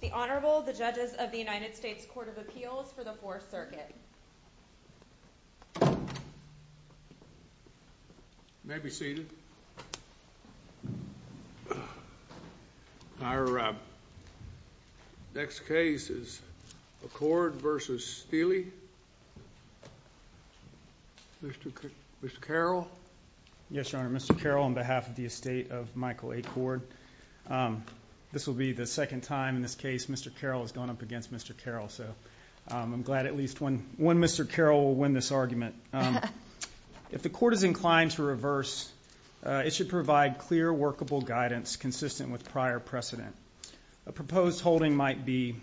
The Honorable the Judges of the United States Court of Appeals for the Fourth Circuit. You may be seated. Our next case is Accord v. Stilley. Mr. Carroll. Yes, Your Honor. Mr. Carroll on behalf of the estate of Michael Accord. This will be the second time in this case Mr. Carroll has gone up against Mr. Carroll. So I'm glad at least one Mr. Carroll will win this argument. If the court is inclined to reverse, it should provide clear workable guidance consistent with prior precedent. A proposed holding might be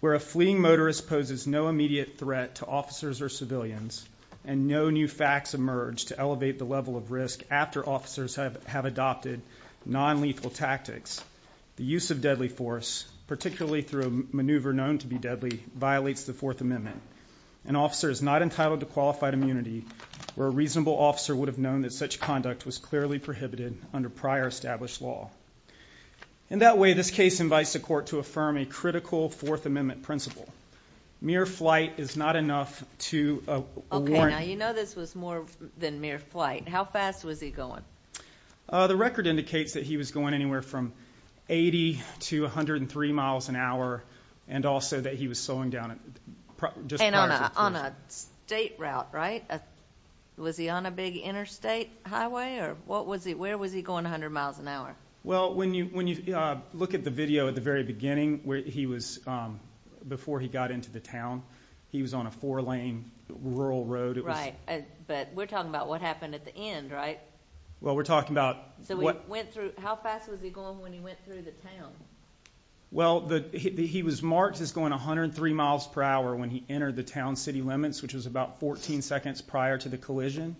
where a fleeing motorist poses no immediate threat to officers or civilians and no new facts emerge to elevate the level of risk after officers have adopted non-lethal tactics. The use of deadly force, particularly through a maneuver known to be deadly, violates the Fourth Amendment. An officer is not entitled to qualified immunity where a reasonable officer would have known that such conduct was clearly prohibited under prior established law. In that way, this case invites the court to affirm a critical Fourth Amendment principle. Mere flight is not enough to warrant... Okay, now you know this was more than mere flight. How fast was he going? The record indicates that he was going anywhere from 80 to 103 miles an hour and also that he was slowing down just prior to... And on a state route, right? Was he on a big interstate highway or what was he, where was he going 100 miles an hour? Well, when you look at the video at the very beginning where he was, before he got into the town, he was on a four-lane rural road. Right, but we're talking about what happened at the end, right? Well, we're talking about... So he went through, how fast was he going when he went through the town? Well, he was marked as going 103 miles per hour when he entered the town-city limits, which was about 14 seconds prior to the collision.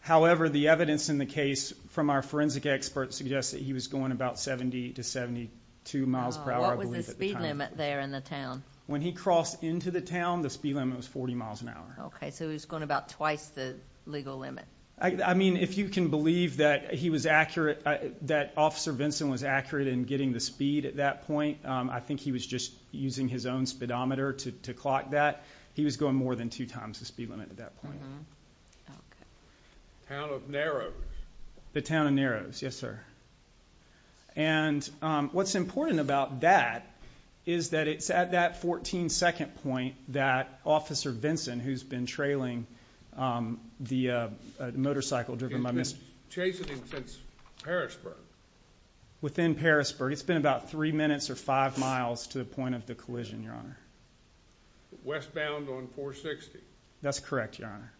However, the evidence in the case from our forensic experts suggests that he was going about 70 to 72 miles per hour, I believe, at the time. What was the speed limit there in the town? When he crossed into the town, the speed limit was 40 miles an hour. Okay, so he was going about twice the legal limit. I mean, if you can believe that he was accurate, that Officer Vinson was accurate in getting the speed at that point, I think he was just using his own speedometer to clock that. He was going more than two times the speed limit at that point. Okay. The town of Narrows. The town of Narrows, yes, sir. And what's important about that is that it's at that 14-second point that Officer Vinson, who's been trailing the motorcycle driven by Mr. He's been chasing him since Parrisburg. Within Parrisburg. It's been about three minutes or five miles to the point of the collision, Your Honor. Westbound on 460. That's correct, Your Honor.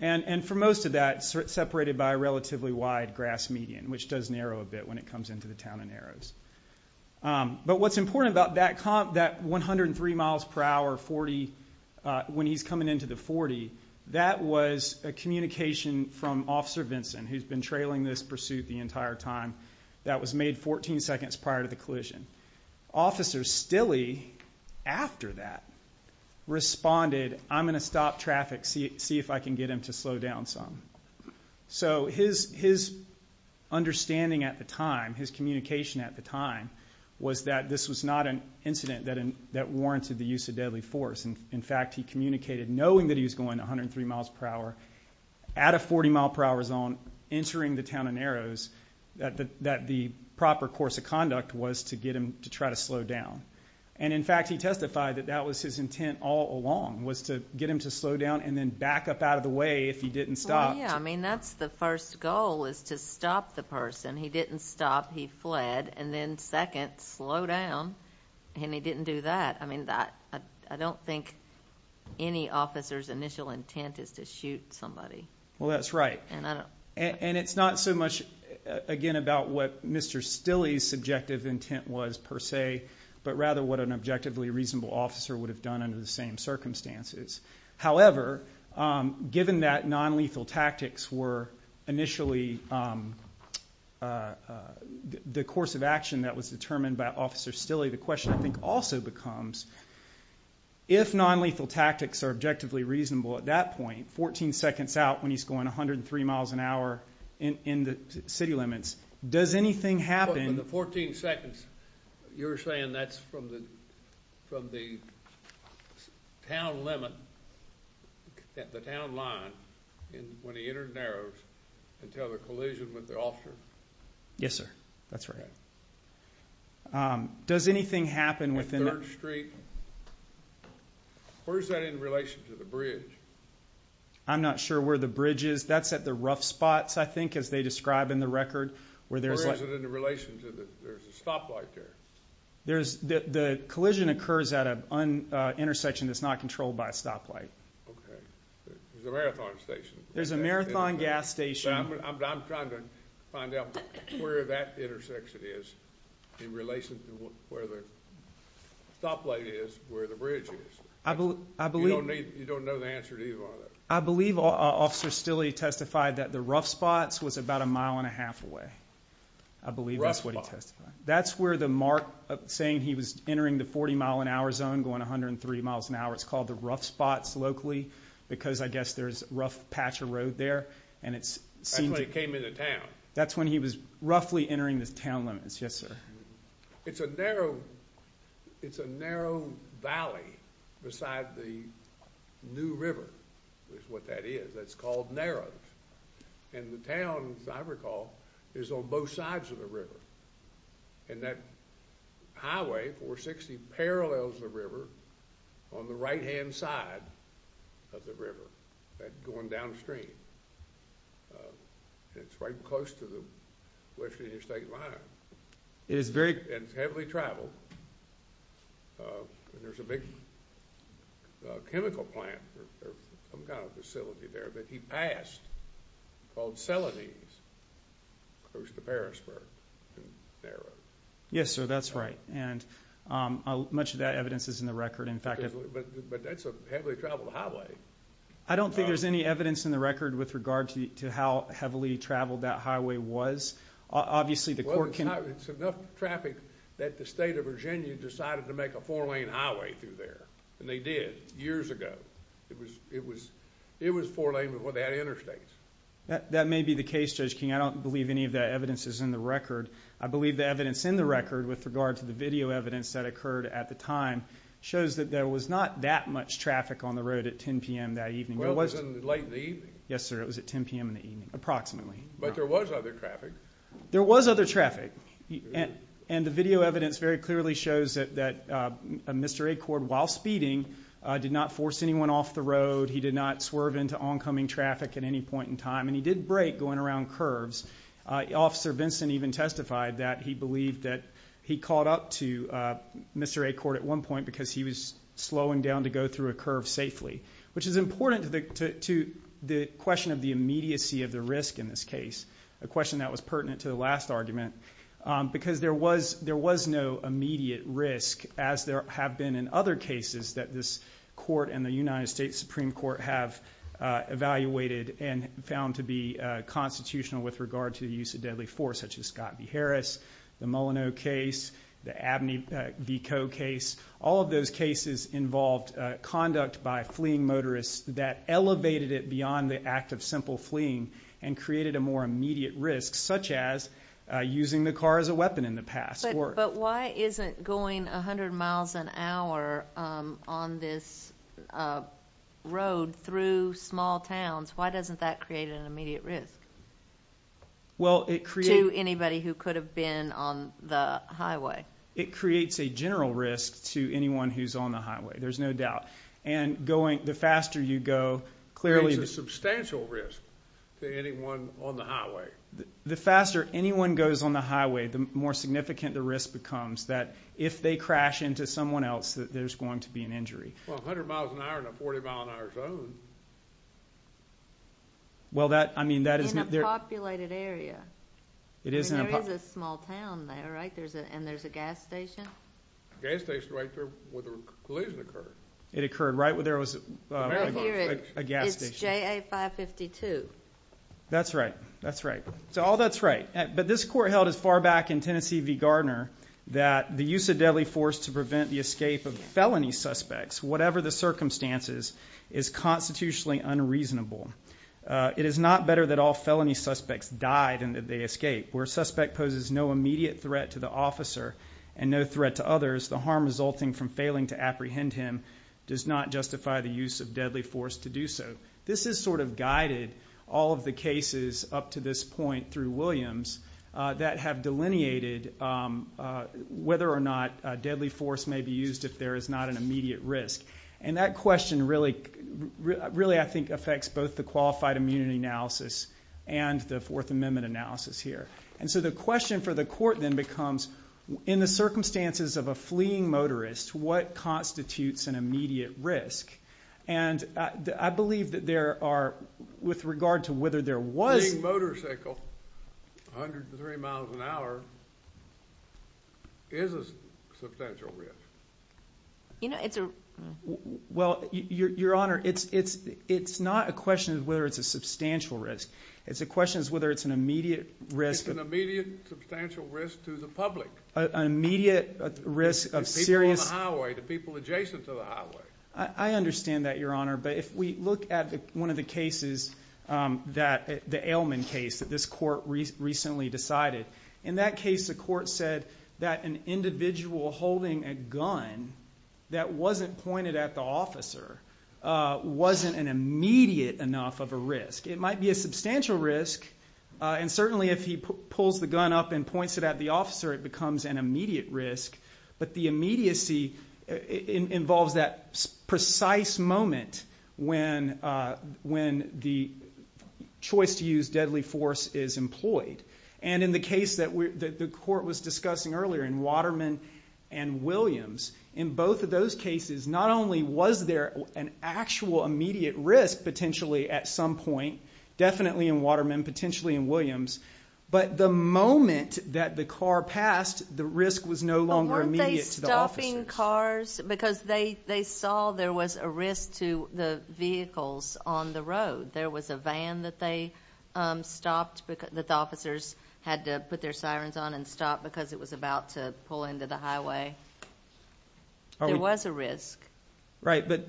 And for most of that, it's separated by a relatively wide grass median, which does narrow a bit when it comes into the town of Narrows. But what's important about that 103 miles per hour, 40, when he's coming into the 40, that was a communication from Officer Vinson, who's been trailing this pursuit the entire time, that was made 14 seconds prior to the collision. Officer Stille, after that, responded, I'm going to stop traffic, see if I can get him to slow down some. So his understanding at the time, his communication at the time, was that this was not an incident that warranted the use of deadly force. In fact, he communicated, knowing that he was going 103 miles per hour, at a 40 mile per hour zone, entering the town of Narrows, that the proper course of conduct was to get him to try to slow down. And in fact, he testified that that was his intent all along, was to get him to slow down and then back up out of the way if he didn't stop. Well, yeah, I mean, that's the first goal, is to stop the person. He didn't stop, he fled, and then second, slow down, and he didn't do that. I mean, I don't think any officer's initial intent is to shoot somebody. Well, that's right. And it's not so much, again, about what Mr. Stille's subjective intent was, per se, but rather what an objectively reasonable officer would have done under the same circumstances. However, given that nonlethal tactics were initially the course of action that was determined by Officer Stille, the question, I think, also becomes, if nonlethal tactics are objectively reasonable at that point, 14 seconds out when he's going 103 miles an hour in the city limits, does anything happen? In the 14 seconds, you're saying that's from the town limit, the town line, when he entered Narrows, until the collision with the officer? Yes, sir. That's right. Does anything happen within that? At 3rd Street? Where's that in relation to the bridge? I'm not sure where the bridge is. That's at the rough spots, I think, as they describe in the record, where there's like... What's it in relation to? There's a stoplight there. The collision occurs at an intersection that's not controlled by a stoplight. Okay. There's a marathon station. There's a marathon gas station. I'm trying to find out where that intersection is in relation to where the stoplight is, where the bridge is. You don't know the answer to either one of those? I believe Officer Stille testified that the rough spots was about a mile and a half away. I believe that's what he testified. That's where the mark saying he was entering the 40 mile an hour zone, going 103 miles an hour, it's called the rough spots locally, because I guess there's a rough patch of road there. That's when he came into town? That's when he was roughly entering the town limits. Yes, sir. It's a narrow valley beside the new river, is what that is. That's called Narrows. And the town, as I recall, is on both sides of the river. And that highway, 460, parallels the river on the right-hand side of the river, going downstream. It's right close to the West Virginia State Line. And it's heavily traveled. And there's a big chemical plant or some kind of facility there that he passed, called Celanese, close to Parrisburg and Narrows. Yes, sir, that's right. And much of that evidence is in the record. But that's a heavily traveled highway. I don't think there's any evidence in the record with regard to how heavily traveled that highway was. Well, it's enough traffic that the state of Virginia decided to make a four-lane highway through there. And they did, years ago. It was four-lane, but they had interstates. That may be the case, Judge King. I don't believe any of that evidence is in the record. I believe the evidence in the record with regard to the video evidence that occurred at the time shows that there was not that much traffic on the road at 10 p.m. that evening. Well, it was late in the evening. Yes, sir, it was at 10 p.m. in the evening, approximately. But there was other traffic. There was other traffic. And the video evidence very clearly shows that Mr. Acord, while speeding, did not force anyone off the road. He did not swerve into oncoming traffic at any point in time. And he did brake going around curves. Officer Vinson even testified that he believed that he caught up to Mr. Acord at one point because he was slowing down to go through a curve safely, which is important to the question of the immediacy of the risk in this case, a question that was pertinent to the last argument, because there was no immediate risk, as there have been in other cases that this Court and the United States Supreme Court have evaluated and found to be constitutional with regard to the use of deadly force, such as Scott v. Harris, the Mullineaux case, the Abney v. Coe case. All of those cases involved conduct by fleeing motorists that elevated it beyond the act of simple fleeing and created a more immediate risk, such as using the car as a weapon in the past. But why isn't going 100 miles an hour on this road through small towns, why doesn't that create an immediate risk to anybody who could have been on the highway? It creates a general risk to anyone who's on the highway, there's no doubt. And going, the faster you go, clearly... It's a substantial risk to anyone on the highway. The faster anyone goes on the highway, the more significant the risk becomes that if they crash into someone else, that there's going to be an injury. Well, 100 miles an hour in a 40-mile-an-hour zone... Well, that, I mean, that is... In a populated area. There is a small town there, right, and there's a gas station? A gas station right there where the collision occurred. It occurred right where there was a gas station. It's JA 552. That's right, that's right. So all that's right. But this court held as far back in Tennessee v. Gardner that the use of deadly force to prevent the escape of felony suspects, whatever the circumstances, is constitutionally unreasonable. It is not better that all felony suspects died than that they escape. Where a suspect poses no immediate threat to the officer and no threat to others, the harm resulting from failing to apprehend him does not justify the use of deadly force to do so. This has sort of guided all of the cases up to this point through Williams that have delineated whether or not deadly force may be used if there is not an immediate risk. And that question really, I think, affects both the qualified immunity analysis and the Fourth Amendment analysis here. And so the question for the court then becomes, in the circumstances of a fleeing motorist, what constitutes an immediate risk? And I believe that there are, with regard to whether there was... A fleeing motorcycle, 103 miles an hour, is a substantial risk. You know, it's a... Well, Your Honor, it's not a question of whether it's a substantial risk. It's a question of whether it's an immediate risk. It's an immediate substantial risk to the public. An immediate risk of serious... The people on the highway, the people adjacent to the highway. I understand that, Your Honor, but if we look at one of the cases, the Ailman case that this court recently decided, in that case, the court said that an individual holding a gun that wasn't pointed at the officer wasn't an immediate enough of a risk. It might be a substantial risk, and certainly if he pulls the gun up and points it at the officer, it becomes an immediate risk, but the immediacy involves that precise moment when the choice to use deadly force is employed. And in the case that the court was discussing earlier, in Waterman and Williams, in both of those cases, not only was there an actual immediate risk potentially at some point, definitely in Waterman, potentially in Williams, but the moment that the car passed, the risk was no longer immediate to the officers. But weren't they stopping cars? Because they saw there was a risk to the vehicles on the road. There was a van that they stopped, that the officers had to put their sirens on and stop because it was about to pull into the highway. There was a risk. Right, but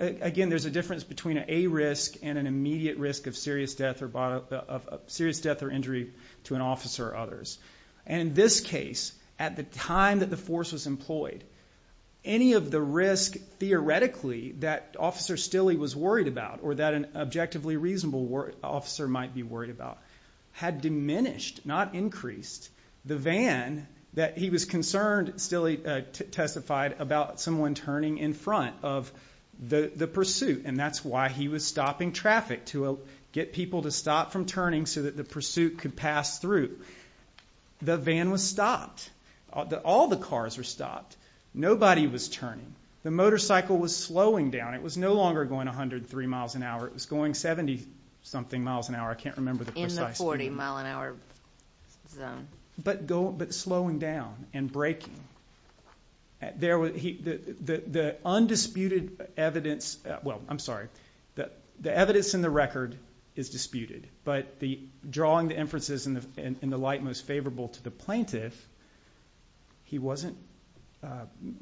again, there's a difference between a risk and an immediate risk of serious death or injury to an officer or others. And in this case, at the time that the force was employed, any of the risk theoretically that Officer Stille was worried about or that an objectively reasonable officer might be worried about had diminished, not increased, the van that he was concerned, Stille testified, about someone turning in front of the pursuit. And that's why he was stopping traffic, to get people to stop from turning so that the pursuit could pass through. The van was stopped. All the cars were stopped. Nobody was turning. The motorcycle was slowing down. It was no longer going 103 miles an hour. It was going 70-something miles an hour. I can't remember the precise number. In the 40-mile-an-hour zone. But slowing down and braking. The undisputed evidence, well, I'm sorry. The evidence in the record is disputed, but drawing the inferences in the light most favorable to the plaintiff, he wasn't,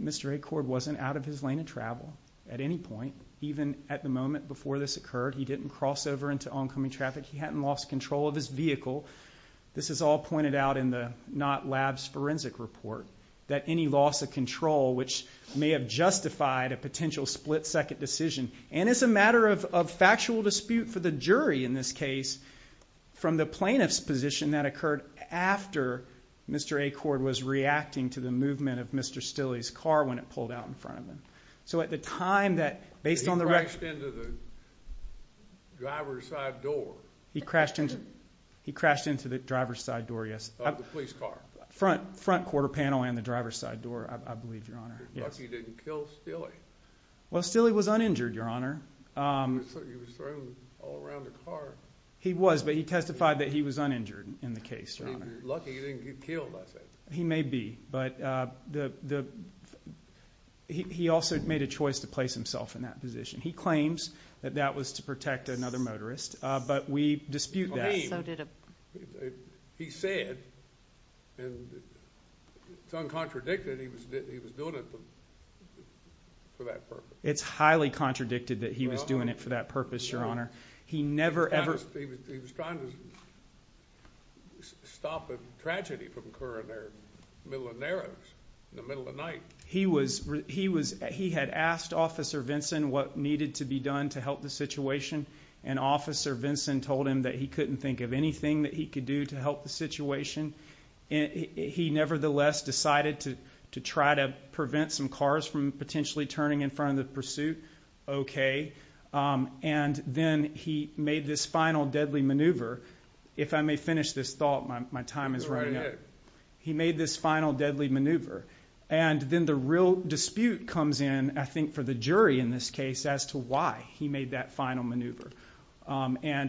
Mr. Acord wasn't out of his lane of travel at any point, even at the moment before this occurred. He didn't cross over into oncoming traffic. He hadn't lost control of his vehicle. This is all pointed out in the Knott Labs forensic report, that any loss of control, which may have justified a potential split-second decision, and as a matter of factual dispute for the jury in this case, from the plaintiff's position, that occurred after Mr. Acord was reacting to the movement of Mr. Stille's car when it pulled out in front of him. So at the time that, based on the record. He crashed into the driver's side door. He crashed into the driver's side door, yes. Of the police car. Front quarter panel and the driver's side door, I believe, Your Honor. But he didn't kill Stille. Well, Stille was uninjured, Your Honor. He was thrown all around the car. He was, but he testified that he was uninjured in the case, Your Honor. He was lucky he didn't get killed, I think. He may be, but he also made a choice to place himself in that position. He claims that that was to protect another motorist, but we dispute that. He said, and it's uncontradicted, he was doing it for that purpose. It's highly contradicted that he was doing it for that purpose, Your Honor. He never, ever. He was trying to stop a tragedy from occurring there in the middle of night. He had asked Officer Vinson what needed to be done to help the situation, and Officer Vinson told him that he couldn't think of anything that he could do to help the situation. He nevertheless decided to try to prevent some cars from potentially turning in front of the pursuit, okay. Then he made this final deadly maneuver. If I may finish this thought, my time is running out. He made this final deadly maneuver. Then the real dispute comes in, I think, for the jury in this case as to why he made that final maneuver.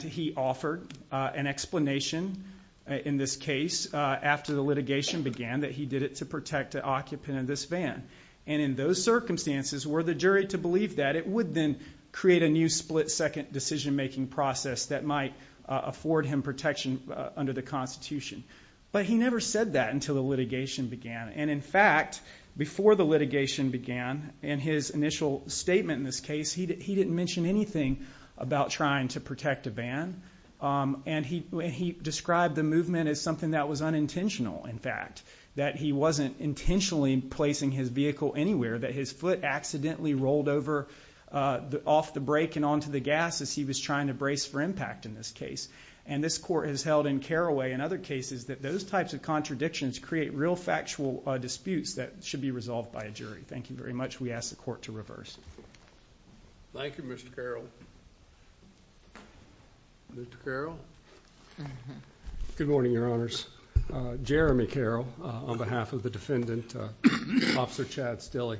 He offered an explanation in this case after the litigation began that he did it to protect an occupant in this van. In those circumstances, were the jury to believe that, it would then create a new split-second decision-making process that might afford him protection under the Constitution. But he never said that until the litigation began. In fact, before the litigation began, in his initial statement in this case, he didn't mention anything about trying to protect a van. He described the movement as something that was unintentional, in fact, that he wasn't intentionally placing his vehicle anywhere, that his foot accidentally rolled over off the brake and onto the gas as he was trying to brace for impact in this case. This Court has held in Carraway and other cases that those types of contradictions create real factual disputes that should be resolved by a jury. Thank you very much. We ask the Court to reverse. Thank you, Mr. Carroll. Mr. Carroll? Good morning, Your Honors. Jeremy Carroll, on behalf of the defendant, Officer Chad Stille.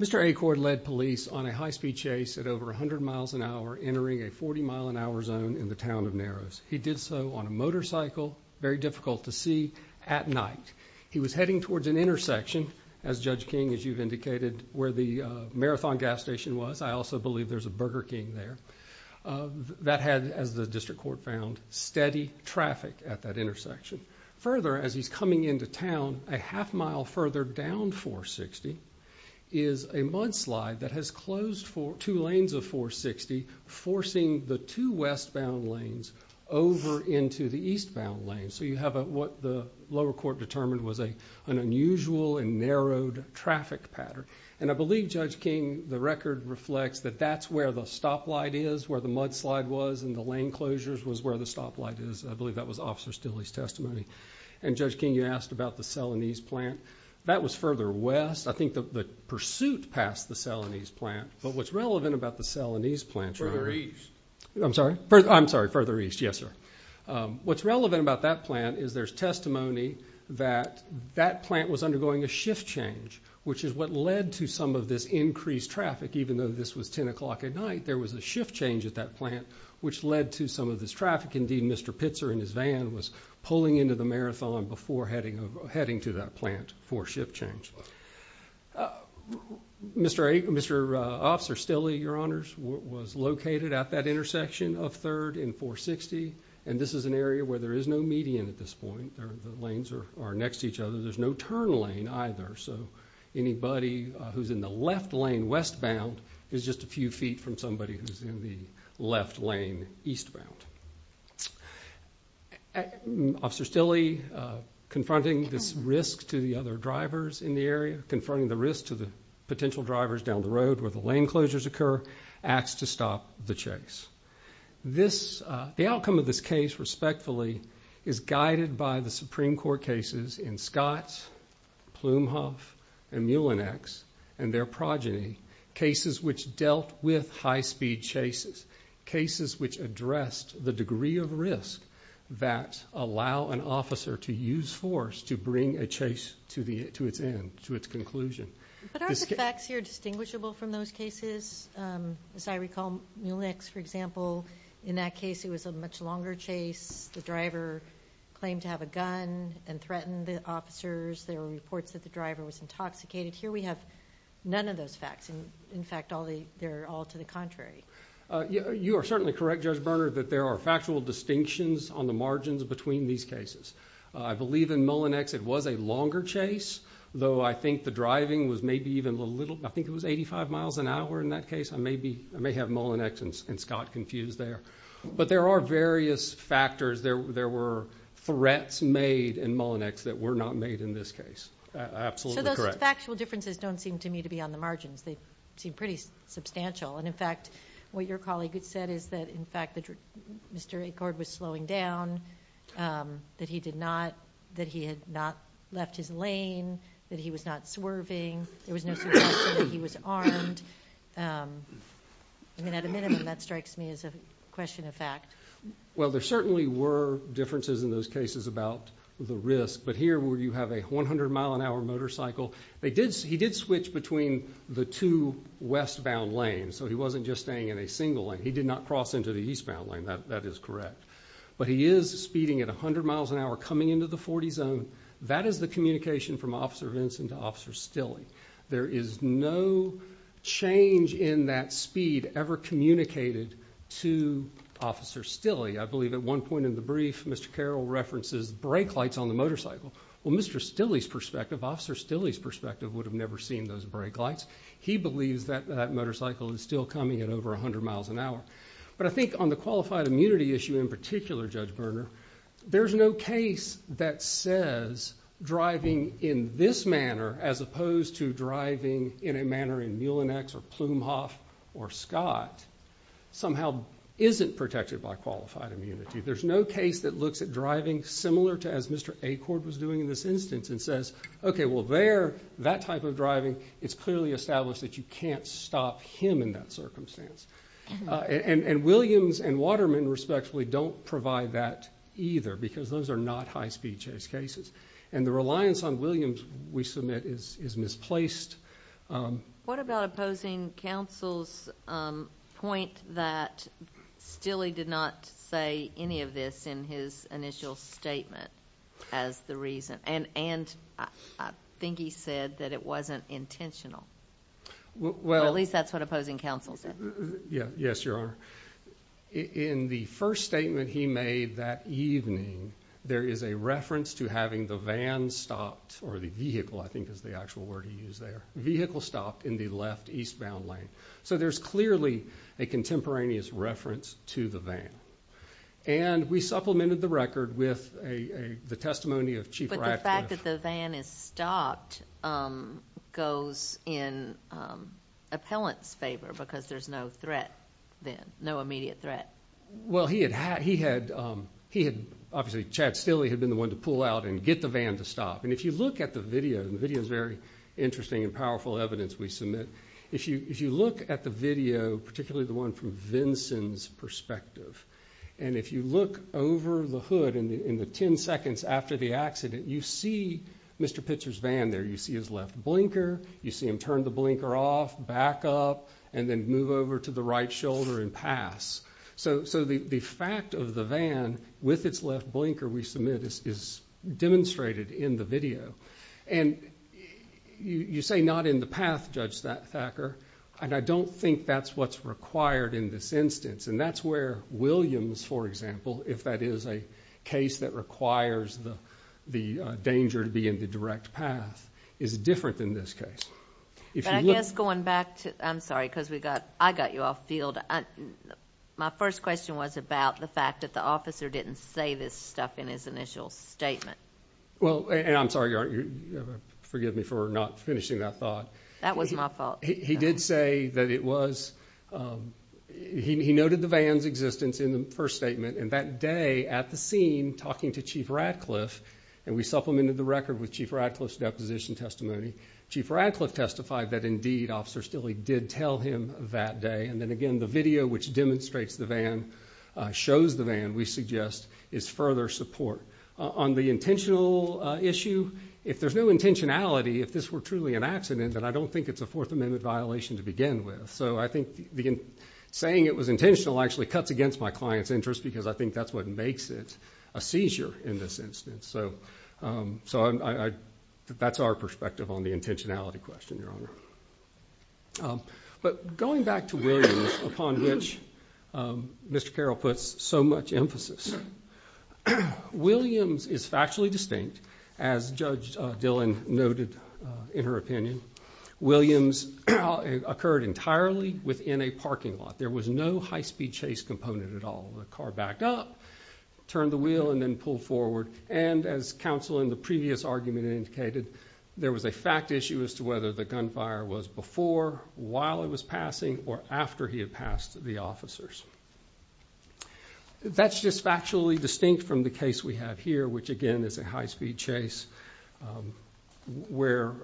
Mr. Acord led police on a high-speed chase at over 100 miles an hour, entering a 40-mile-an-hour zone in the town of Narrows. He did so on a motorcycle, very difficult to see at night. He was heading towards an intersection, as Judge King, as you've indicated, where the Marathon gas station was. I also believe there's a Burger King there. That had, as the District Court found, steady traffic at that intersection. Further, as he's coming into town, a half-mile further down 460 is a mudslide that has closed two lanes of 460, forcing the two westbound lanes over into the eastbound lanes. So you have what the lower court determined was an unusual and narrowed traffic pattern. And I believe, Judge King, the record reflects that that's where the stoplight is, where the mudslide was, and the lane closures was where the stoplight is. I believe that was Officer Stille's testimony. And, Judge King, you asked about the Celanese plant. That was further west. I think the pursuit passed the Celanese plant. But what's relevant about the Celanese plant, Your Honor— Further east. I'm sorry? I'm sorry, further east, yes, sir. What's relevant about that plant is there's testimony that that plant was undergoing a shift change, which is what led to some of this increased traffic, even though this was 10 o'clock at night. There was a shift change at that plant, which led to some of this traffic. Indeed, Mr. Pitzer in his van was pulling into the marathon before heading to that plant for shift change. Mr. Officer Stille, Your Honors, was located at that intersection of 3rd and 460. And this is an area where there is no median at this point. The lanes are next to each other. There's no turn lane either. So anybody who's in the left lane westbound is just a few feet from somebody who's in the left lane eastbound. Officer Stille, confronting this risk to the other drivers in the area, confronting the risk to the potential drivers down the road where the lane closures occur, asked to stop the chase. The outcome of this case, respectfully, is guided by the Supreme Court cases in Scott, Plumhoff, and Mulenex and their progeny, cases which dealt with high-speed chases, cases which addressed the degree of risk that allow an officer to use force to bring a chase to its end, to its conclusion. But aren't the facts here distinguishable from those cases? As I recall, Mulenex, for example, in that case it was a much longer chase. The driver claimed to have a gun and threatened the officers. There were reports that the driver was intoxicated. Here we have none of those facts. In fact, they're all to the contrary. You are certainly correct, Judge Berner, that there are factual distinctions on the margins between these cases. I believe in Mulenex it was a longer chase, though I think the driving was maybe even a little, I think it was 85 miles an hour in that case. I may have Mulenex and Scott confused there. But there are various factors. There were threats made in Mulenex that were not made in this case. Absolutely correct. Those factual differences don't seem to me to be on the margins. They seem pretty substantial. In fact, what your colleague said is that, in fact, Mr. Acord was slowing down, that he had not left his lane, that he was not swerving. There was no suggestion that he was armed. I mean, at a minimum, that strikes me as a question of fact. Well, there certainly were differences in those cases about the risk. But here where you have a 100-mile-an-hour motorcycle, he did switch between the two westbound lanes, so he wasn't just staying in a single lane. He did not cross into the eastbound lane. That is correct. But he is speeding at 100 miles an hour, coming into the 40 zone. That is the communication from Officer Vincent to Officer Stille. There is no change in that speed ever communicated to Officer Stille. I believe at one point in the brief, Mr. Carroll references brake lights on the motorcycle. Well, Mr. Stille's perspective, Officer Stille's perspective, would have never seen those brake lights. He believes that that motorcycle is still coming at over 100 miles an hour. But I think on the qualified immunity issue in particular, Judge Berner, there is no case that says driving in this manner, as opposed to driving in a manner in Muellenex or Plumhoff or Scott, somehow isn't protected by qualified immunity. There is no case that looks at driving similar to as Mr. Acord was doing in this instance and says, okay, well, there, that type of driving, it's clearly established that you can't stop him in that circumstance. And Williams and Waterman, respectively, don't provide that either because those are not high speed chase cases. And the reliance on Williams, we submit, is misplaced. What about opposing counsel's point that Stille did not say any of this in his initial statement as the reason? And I think he said that it wasn't intentional. At least that's what opposing counsel said. Yes, Your Honor. In the first statement he made that evening, there is a reference to having the van stopped, or the vehicle I think is the actual word he used there, vehicle stopped in the left eastbound lane. So there's clearly a contemporaneous reference to the van. And we supplemented the record with the testimony of Chief Ratcliffe. The fact that the van is stopped goes in appellant's favor because there's no threat then, no immediate threat. Well, he had, obviously, Chad Stille had been the one to pull out and get the van to stop. And if you look at the video, and the video is very interesting and powerful evidence we submit, if you look at the video, particularly the one from Vinson's perspective, and if you look over the hood in the ten seconds after the accident, you see Mr. Pitzer's van there. You see his left blinker. You see him turn the blinker off, back up, and then move over to the right shoulder and pass. So the fact of the van with its left blinker, we submit, is demonstrated in the video. And you say not in the path, Judge Thacker, and I don't think that's what's required in this instance. And that's where Williams, for example, if that is a case that requires the danger to be in the direct path, is different than this case. I guess going back to, I'm sorry, because I got you off field. My first question was about the fact that the officer didn't say this stuff in his initial statement. Well, and I'm sorry, forgive me for not finishing that thought. That was my fault. He did say that it was, he noted the van's existence in the first statement. And that day at the scene, talking to Chief Radcliffe, and we supplemented the record with Chief Radcliffe's deposition testimony, Chief Radcliffe testified that, indeed, Officer Stille did tell him that day. And then, again, the video, which demonstrates the van, shows the van, we suggest, is further support. On the intentional issue, if there's no intentionality, if this were truly an accident, then I don't think it's a Fourth Amendment violation to begin with. So I think saying it was intentional actually cuts against my client's interest because I think that's what makes it a seizure in this instance. So that's our perspective on the intentionality question, Your Honor. But going back to Williams, upon which Mr. Carroll puts so much emphasis, Williams is factually distinct, as Judge Dillon noted in her opinion. Williams occurred entirely within a parking lot. There was no high-speed chase component at all. The car backed up, turned the wheel, and then pulled forward. And, as counsel in the previous argument indicated, there was a fact issue as to whether the gunfire was before, while it was passing, or after he had passed the officers. That's just factually distinct from the case we have here, which, again, is a high-speed chase, where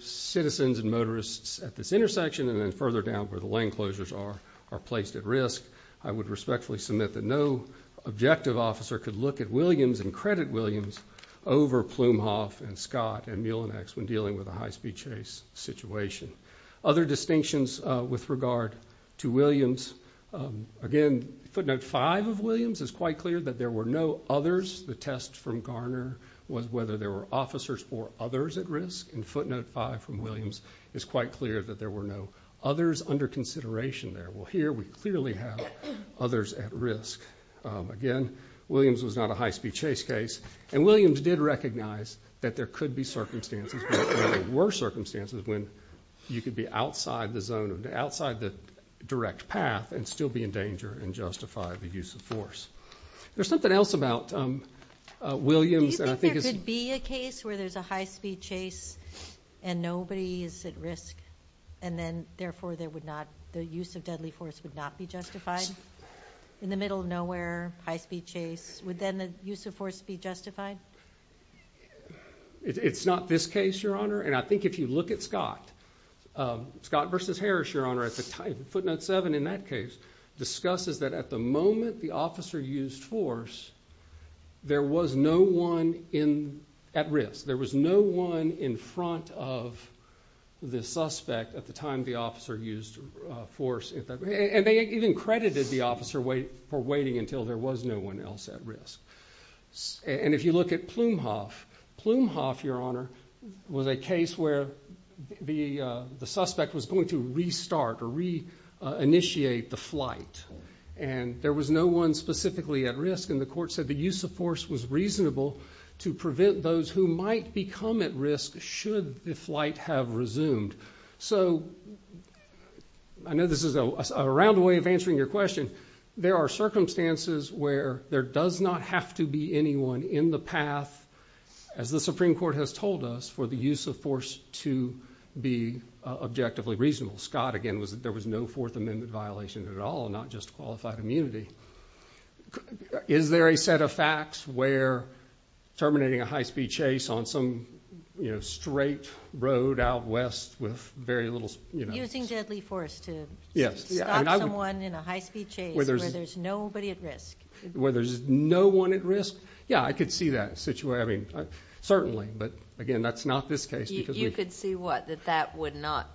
citizens and motorists at this intersection and then further down where the lane closures are are placed at risk. I would respectfully submit that no objective officer could look at Williams and credit Williams over Plumehoff and Scott and Muellenex when dealing with a high-speed chase situation. Other distinctions with regard to Williams. Again, footnote 5 of Williams is quite clear that there were no others. The test from Garner was whether there were officers or others at risk, and footnote 5 from Williams is quite clear that there were no others under consideration there. Well, here we clearly have others at risk. Again, Williams was not a high-speed chase case, and Williams did recognize that there could be circumstances, but there were circumstances when you could be outside the zone, outside the direct path and still be in danger and justify the use of force. There's something else about Williams. Do you think there could be a case where there's a high-speed chase and nobody is at risk, and then, therefore, the use of deadly force would not be justified? In the middle of nowhere, high-speed chase, would then the use of force be justified? It's not this case, Your Honor, and I think if you look at Scott. Scott v. Harris, Your Honor, footnote 7 in that case, discusses that at the moment the officer used force, there was no one at risk. There was no one in front of the suspect at the time the officer used force. And they even credited the officer for waiting until there was no one else at risk. And if you look at Plumhoff, Plumhoff, Your Honor, was a case where the suspect was going to restart or reinitiate the flight, and there was no one specifically at risk, and the court said the use of force was reasonable to prevent those who might become at risk should the flight have resumed. So I know this is a round way of answering your question. There are circumstances where there does not have to be anyone in the path, as the Supreme Court has told us, for the use of force to be objectively reasonable. Scott, again, was that there was no Fourth Amendment violation at all, not just qualified immunity. Is there a set of facts where terminating a high-speed chase on some, you know, straight road out west with very little, you know. Using deadly force to stop someone in a high-speed chase where there's nobody at risk. Where there's no one at risk. Yeah, I could see that situation. I mean, certainly. But, again, that's not this case. You could see what? That that would not.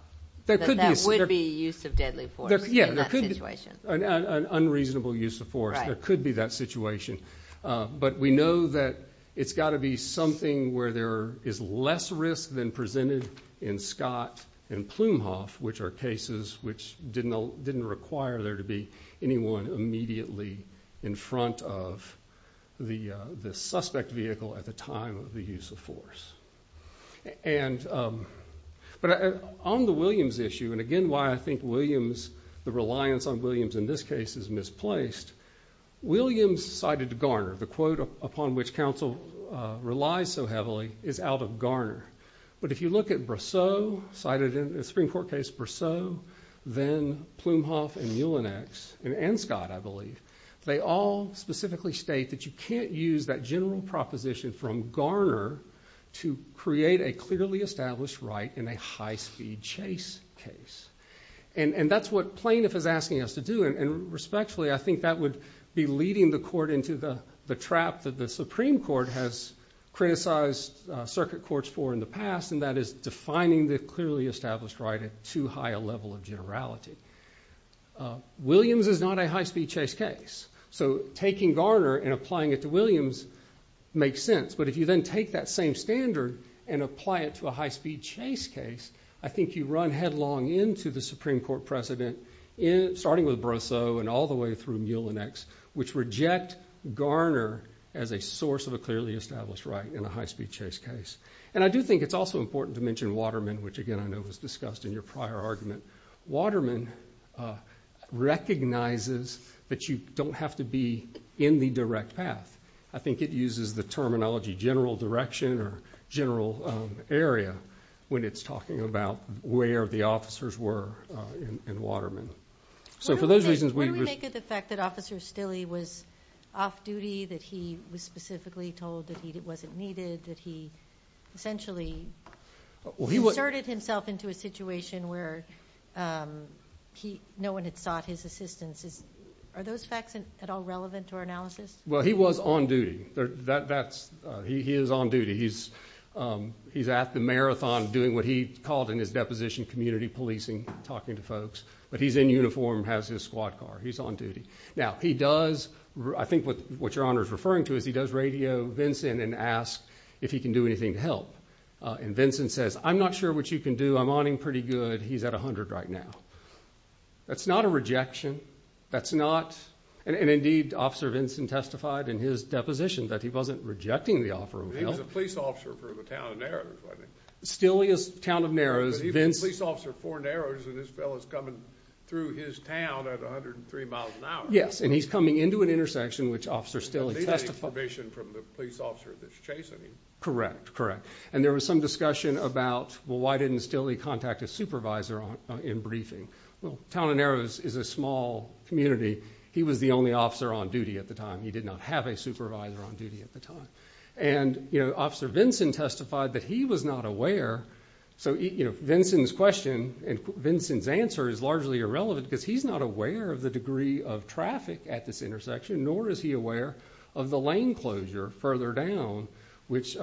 That would be use of deadly force in that situation. An unreasonable use of force. There could be that situation. But we know that it's got to be something where there is less risk than presented in Scott and Plumhoff, which are cases which didn't require there to be anyone immediately in front of the suspect vehicle at the time of the use of force. But on the Williams issue, and, again, why I think Williams, the reliance on Williams in this case is misplaced. Williams cited Garner. The quote upon which counsel relies so heavily is out of Garner. But if you look at Brousseau, cited in the Supreme Court case Brousseau, then Plumhoff and Muellenex, and Scott, I believe, they all specifically state that you can't use that general proposition from Garner to create a clearly established right in a high-speed chase case. And that's what Plainiff is asking us to do. And respectfully, I think that would be leading the court into the trap that the Supreme Court has criticized circuit courts for in the past, and that is defining the clearly established right at too high a level of generality. Williams is not a high-speed chase case. So taking Garner and applying it to Williams makes sense. But if you then take that same standard and apply it to a high-speed chase case, I think you run headlong into the Supreme Court precedent, starting with Brousseau and all the way through Muellenex, which reject Garner as a source of a clearly established right in a high-speed chase case. And I do think it's also important to mention Waterman, which again I know was discussed in your prior argument. Waterman recognizes that you don't have to be in the direct path. I think it uses the terminology general direction or general area when it's talking about where the officers were in Waterman. What do we make of the fact that Officer Stille was off duty, that he was specifically told that he wasn't needed, that he essentially inserted himself into a situation where no one had sought his assistance? Are those facts at all relevant to our analysis? Well, he was on duty. He is on duty. He's at the marathon doing what he called in his deposition community policing, talking to folks. But he's in uniform, has his squad car. He's on duty. Now, he does, I think what Your Honor is referring to, is he does radio Vinson and ask if he can do anything to help. And Vinson says, I'm not sure what you can do. I'm on him pretty good. He's at 100 right now. That's not a rejection. That's not, and indeed Officer Vinson testified in his deposition that he wasn't rejecting the offer of help. He was a police officer for the town of Narrows, wasn't he? Stille is the town of Narrows. But he was a police officer for Narrows, and this fellow is coming through his town at 103 miles an hour. Yes, and he's coming into an intersection, which Officer Stille testified. And he's getting permission from the police officer that's chasing him. Correct, correct. And there was some discussion about, well, why didn't Stille contact his supervisor in briefing? Well, town of Narrows is a small community. He was the only officer on duty at the time. He did not have a supervisor on duty at the time. And Officer Vinson testified that he was not aware. So Vinson's question and Vinson's answer is largely irrelevant because he's not aware of the degree of traffic at this intersection, nor is he aware of the lane closure further down, which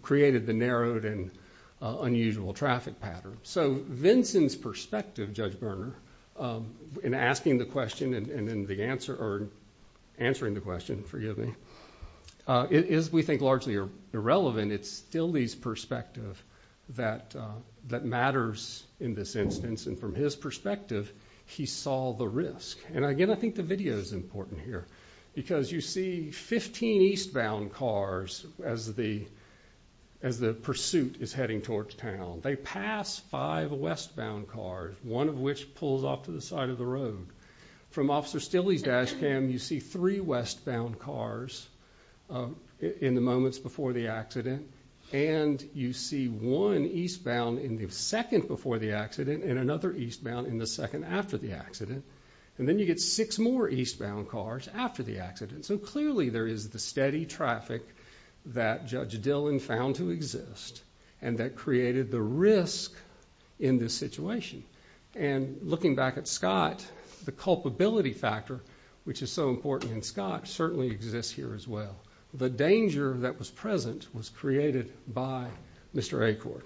created the narrowed and unusual traffic pattern. So Vinson's perspective, Judge Berner, in asking the question and in answering the question, forgive me, is, we think, largely irrelevant. It's Stille's perspective that matters in this instance. And from his perspective, he saw the risk. And, again, I think the video is important here because you see 15 eastbound cars as the pursuit is heading towards town. They pass five westbound cars, one of which pulls off to the side of the road. From Officer Stille's dash cam, you see three westbound cars in the moments before the accident. And you see one eastbound in the second before the accident and another eastbound in the second after the accident. And then you get six more eastbound cars after the accident. So clearly there is the steady traffic that Judge Dillon found to exist and that created the risk in this situation. And looking back at Scott, the culpability factor, which is so important in Scott, certainly exists here as well. The danger that was present was created by Mr. Acord.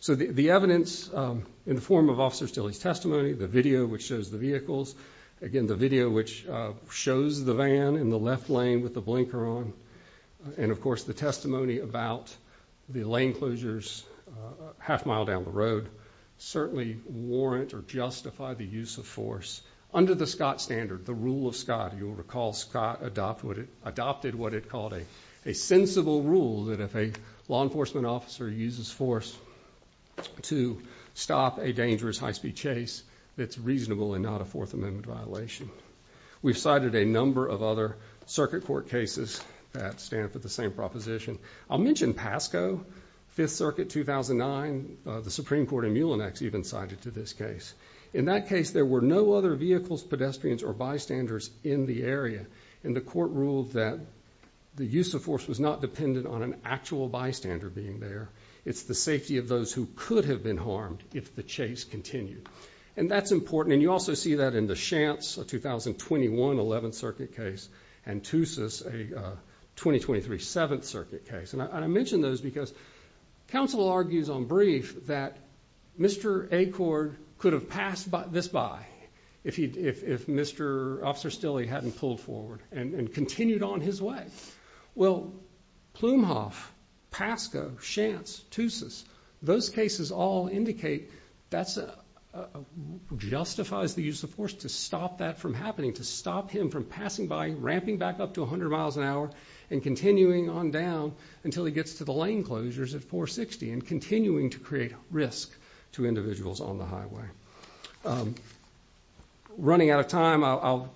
So the evidence in the form of Officer Stille's testimony, the video which shows the vehicles, again, the video which shows the van in the left lane with the blinker on, and, of course, the testimony about the lane closures half-mile down the road certainly warrant or justify the use of force. Under the Scott standard, the rule of Scott, you'll recall Scott adopted what it called a sensible rule that if a law enforcement officer uses force to stop a dangerous high-speed chase, it's reasonable and not a Fourth Amendment violation. We've cited a number of other circuit court cases that stand for the same proposition. I'll mention PASCO, Fifth Circuit, 2009. The Supreme Court in Mulinex even cited to this case. In that case, there were no other vehicles, pedestrians, or bystanders in the area, and the court ruled that the use of force was not dependent on an actual bystander being there. It's the safety of those who could have been harmed if the chase continued. And that's important, and you also see that in the Shantz, a 2021 11th Circuit case, and Toussus, a 2023 7th Circuit case. And I mention those because counsel argues on brief that Mr. Acord could have passed this by if Mr. Officer Stille hadn't pulled forward and continued on his way. Well, Plumhoff, PASCO, Shantz, Toussus, those cases all indicate that justifies the use of force to stop that from happening, to stop him from passing by, ramping back up to 100 miles an hour and continuing on down until he gets to the lane closures at 460 and continuing to create risk to individuals on the highway. Running out of time, I'll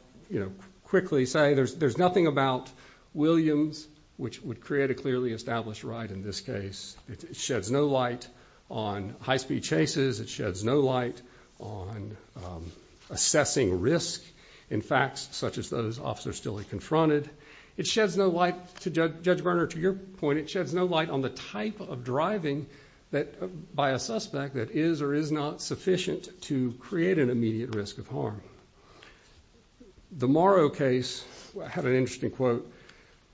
quickly say there's nothing about Williams, which would create a clearly established right in this case. It sheds no light on high-speed chases. It sheds no light on assessing risk in facts such as those Officer Stille confronted. It sheds no light, Judge Berner, to your point, it sheds no light on the type of driving by a suspect that is or is not sufficient to create an immediate risk of harm. The Morrow case had an interesting quote.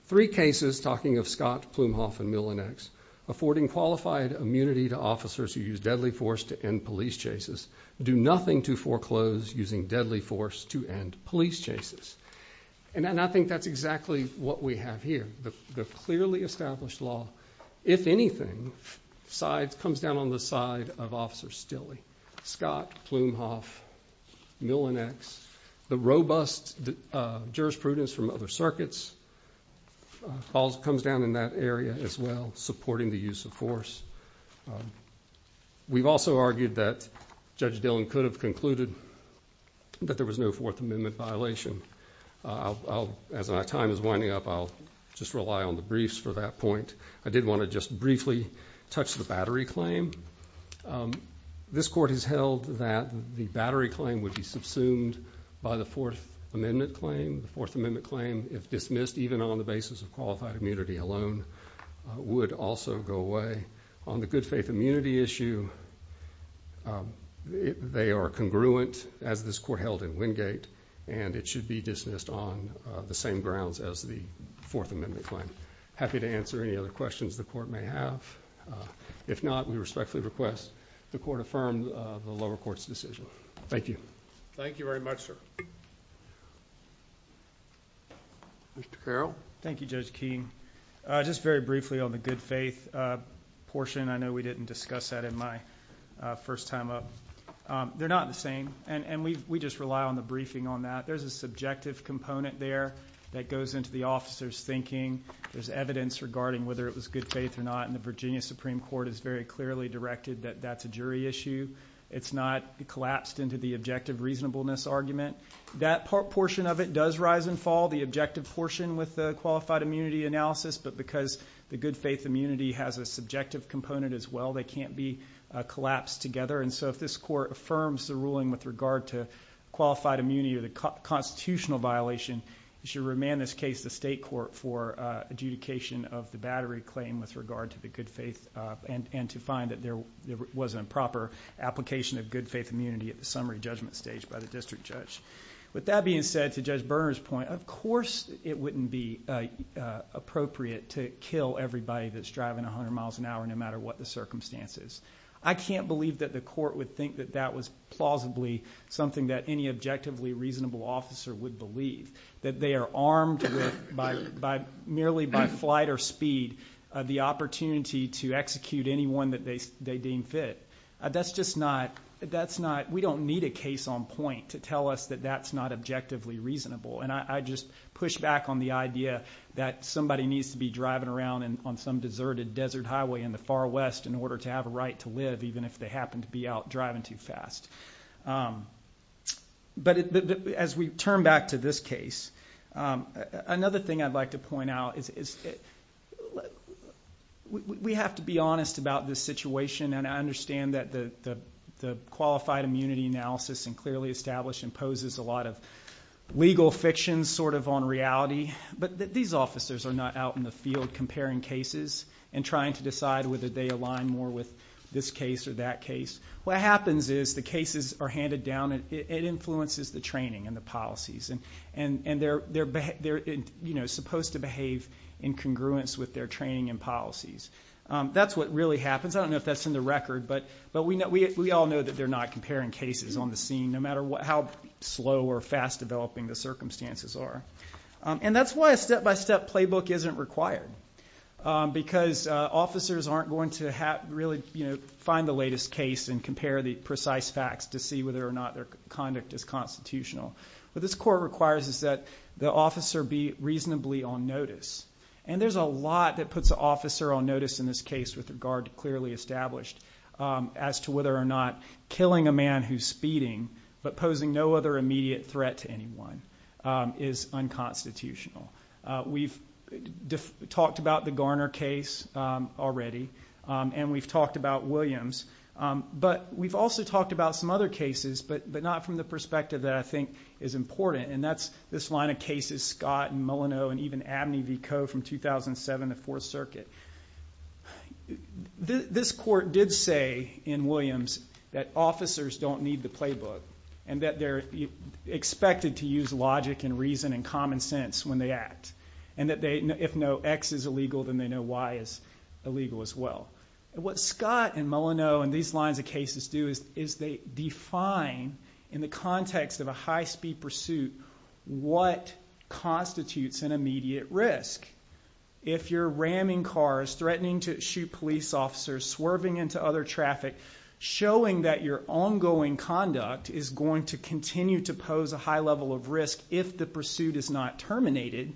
Three cases, talking of Scott, Plumhoff, and Millinex, affording qualified immunity to officers who use deadly force to end police chases, do nothing to foreclose using deadly force to end police chases. And I think that's exactly what we have here. The clearly established law, if anything, comes down on the side of Officer Stille. Scott, Plumhoff, Millinex, the robust jurisprudence from other circuits comes down in that area as well, supporting the use of force. We've also argued that Judge Dillon could have concluded that there was no Fourth Amendment violation. As my time is winding up, I'll just rely on the briefs for that point. I did want to just briefly touch the battery claim. This Court has held that the battery claim would be subsumed by the Fourth Amendment claim. The Fourth Amendment claim, if dismissed even on the basis of qualified immunity alone, would also go away. On the good faith immunity issue, they are congruent, as this Court held in Wingate, and it should be dismissed on the same grounds as the Fourth Amendment claim. Happy to answer any other questions the Court may have. If not, we respectfully request the Court affirm the lower court's decision. Thank you. Thank you very much, sir. Mr. Carroll? Thank you, Judge Keene. Just very briefly on the good faith portion. I know we didn't discuss that in my first time up. They're not the same, and we just rely on the briefing on that. There's a subjective component there that goes into the officer's thinking. There's evidence regarding whether it was good faith or not, and the Virginia Supreme Court has very clearly directed that that's a jury issue. It's not collapsed into the objective reasonableness argument. That portion of it does rise and fall, the objective portion with the qualified immunity analysis, but because the good faith immunity has a subjective component as well, they can't be collapsed together. And so if this Court affirms the ruling with regard to qualified immunity or the constitutional violation, it should remand this case to state court for adjudication of the battery claim with regard to the good faith and to find that there was an improper application of good faith immunity at the summary judgment stage by the district judge. With that being said, to Judge Berner's point, of course it wouldn't be appropriate to kill everybody that's driving 100 miles an hour no matter what the circumstance is. I can't believe that the court would think that that was plausibly something that any objectively reasonable officer would believe, that they are armed with merely by flight or speed the opportunity to execute anyone that they deem fit. We don't need a case on point to tell us that that's not objectively reasonable, and I just push back on the idea that somebody needs to be driving around on some deserted desert highway in the far west in order to have a right to live even if they happen to be out driving too fast. But as we turn back to this case, another thing I'd like to point out is we have to be honest about this situation, and I understand that the qualified immunity analysis and clearly established imposes a lot of legal fiction sort of on reality, but these officers are not out in the field comparing cases and trying to decide whether they align more with this case or that case. What happens is the cases are handed down and it influences the training and the policies, and they're supposed to behave in congruence with their training and policies. That's what really happens. I don't know if that's in the record, but we all know that they're not comparing cases on the scene no matter how slow or fast developing the circumstances are, and that's why a step-by-step playbook isn't required because officers aren't going to really find the latest case and compare the precise facts to see whether or not their conduct is constitutional. What this court requires is that the officer be reasonably on notice, and there's a lot that puts an officer on notice in this case with regard to clearly established as to whether or not killing a man who's speeding but posing no other immediate threat to anyone is unconstitutional. We've talked about the Garner case already, and we've talked about Williams, but we've also talked about some other cases but not from the perspective that I think is important, and that's this line of cases, Scott and Milano and even Abney v. Coe from 2007, the Fourth Circuit. This court did say in Williams that officers don't need the playbook and that they're expected to use logic and reason and common sense when they act, and that if no X is illegal, then they know Y is illegal as well. What Scott and Milano and these lines of cases do is they define in the context of a high-speed pursuit what constitutes an immediate risk. If you're ramming cars, threatening to shoot police officers, swerving into other traffic, showing that your ongoing conduct is going to continue to pose a high level of risk if the pursuit is not terminated,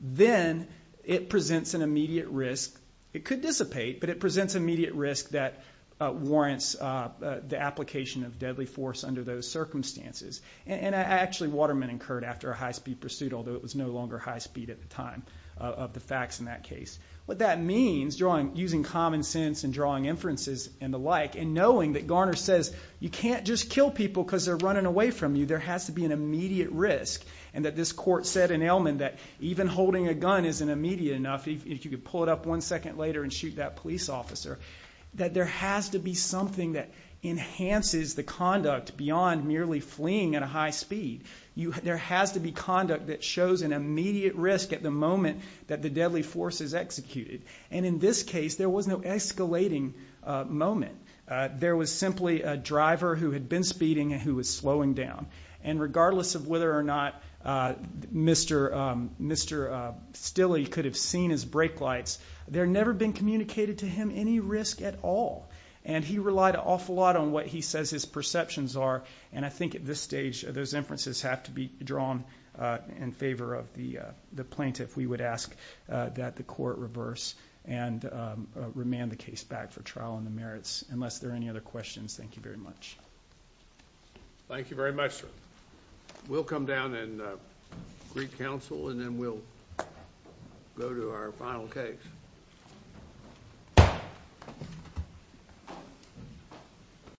then it presents an immediate risk. It could dissipate, but it presents an immediate risk that warrants the application of deadly force under those circumstances, and actually Waterman incurred after a high-speed pursuit, although it was no longer high speed at the time of the facts in that case. What that means, using common sense and drawing inferences and the like, and knowing that Garner says you can't just kill people because they're running away from you, there has to be an immediate risk, and that this court said in Ellman that even holding a gun isn't immediate enough if you could pull it up one second later and shoot that police officer, that there has to be something that enhances the conduct beyond merely fleeing at a high speed. There has to be conduct that shows an immediate risk at the moment that the deadly force is executed, and in this case there was no escalating moment. There was simply a driver who had been speeding and who was slowing down, and regardless of whether or not Mr. Stille could have seen his brake lights, there had never been communicated to him any risk at all, and he relied an awful lot on what he says his perceptions are, and I think at this stage those inferences have to be drawn in favor of the plaintiff. We would ask that the court reverse and remand the case back for trial on the merits. Unless there are any other questions, thank you very much. Thank you very much, sir. We'll come down and greet counsel, and then we'll go to our final case.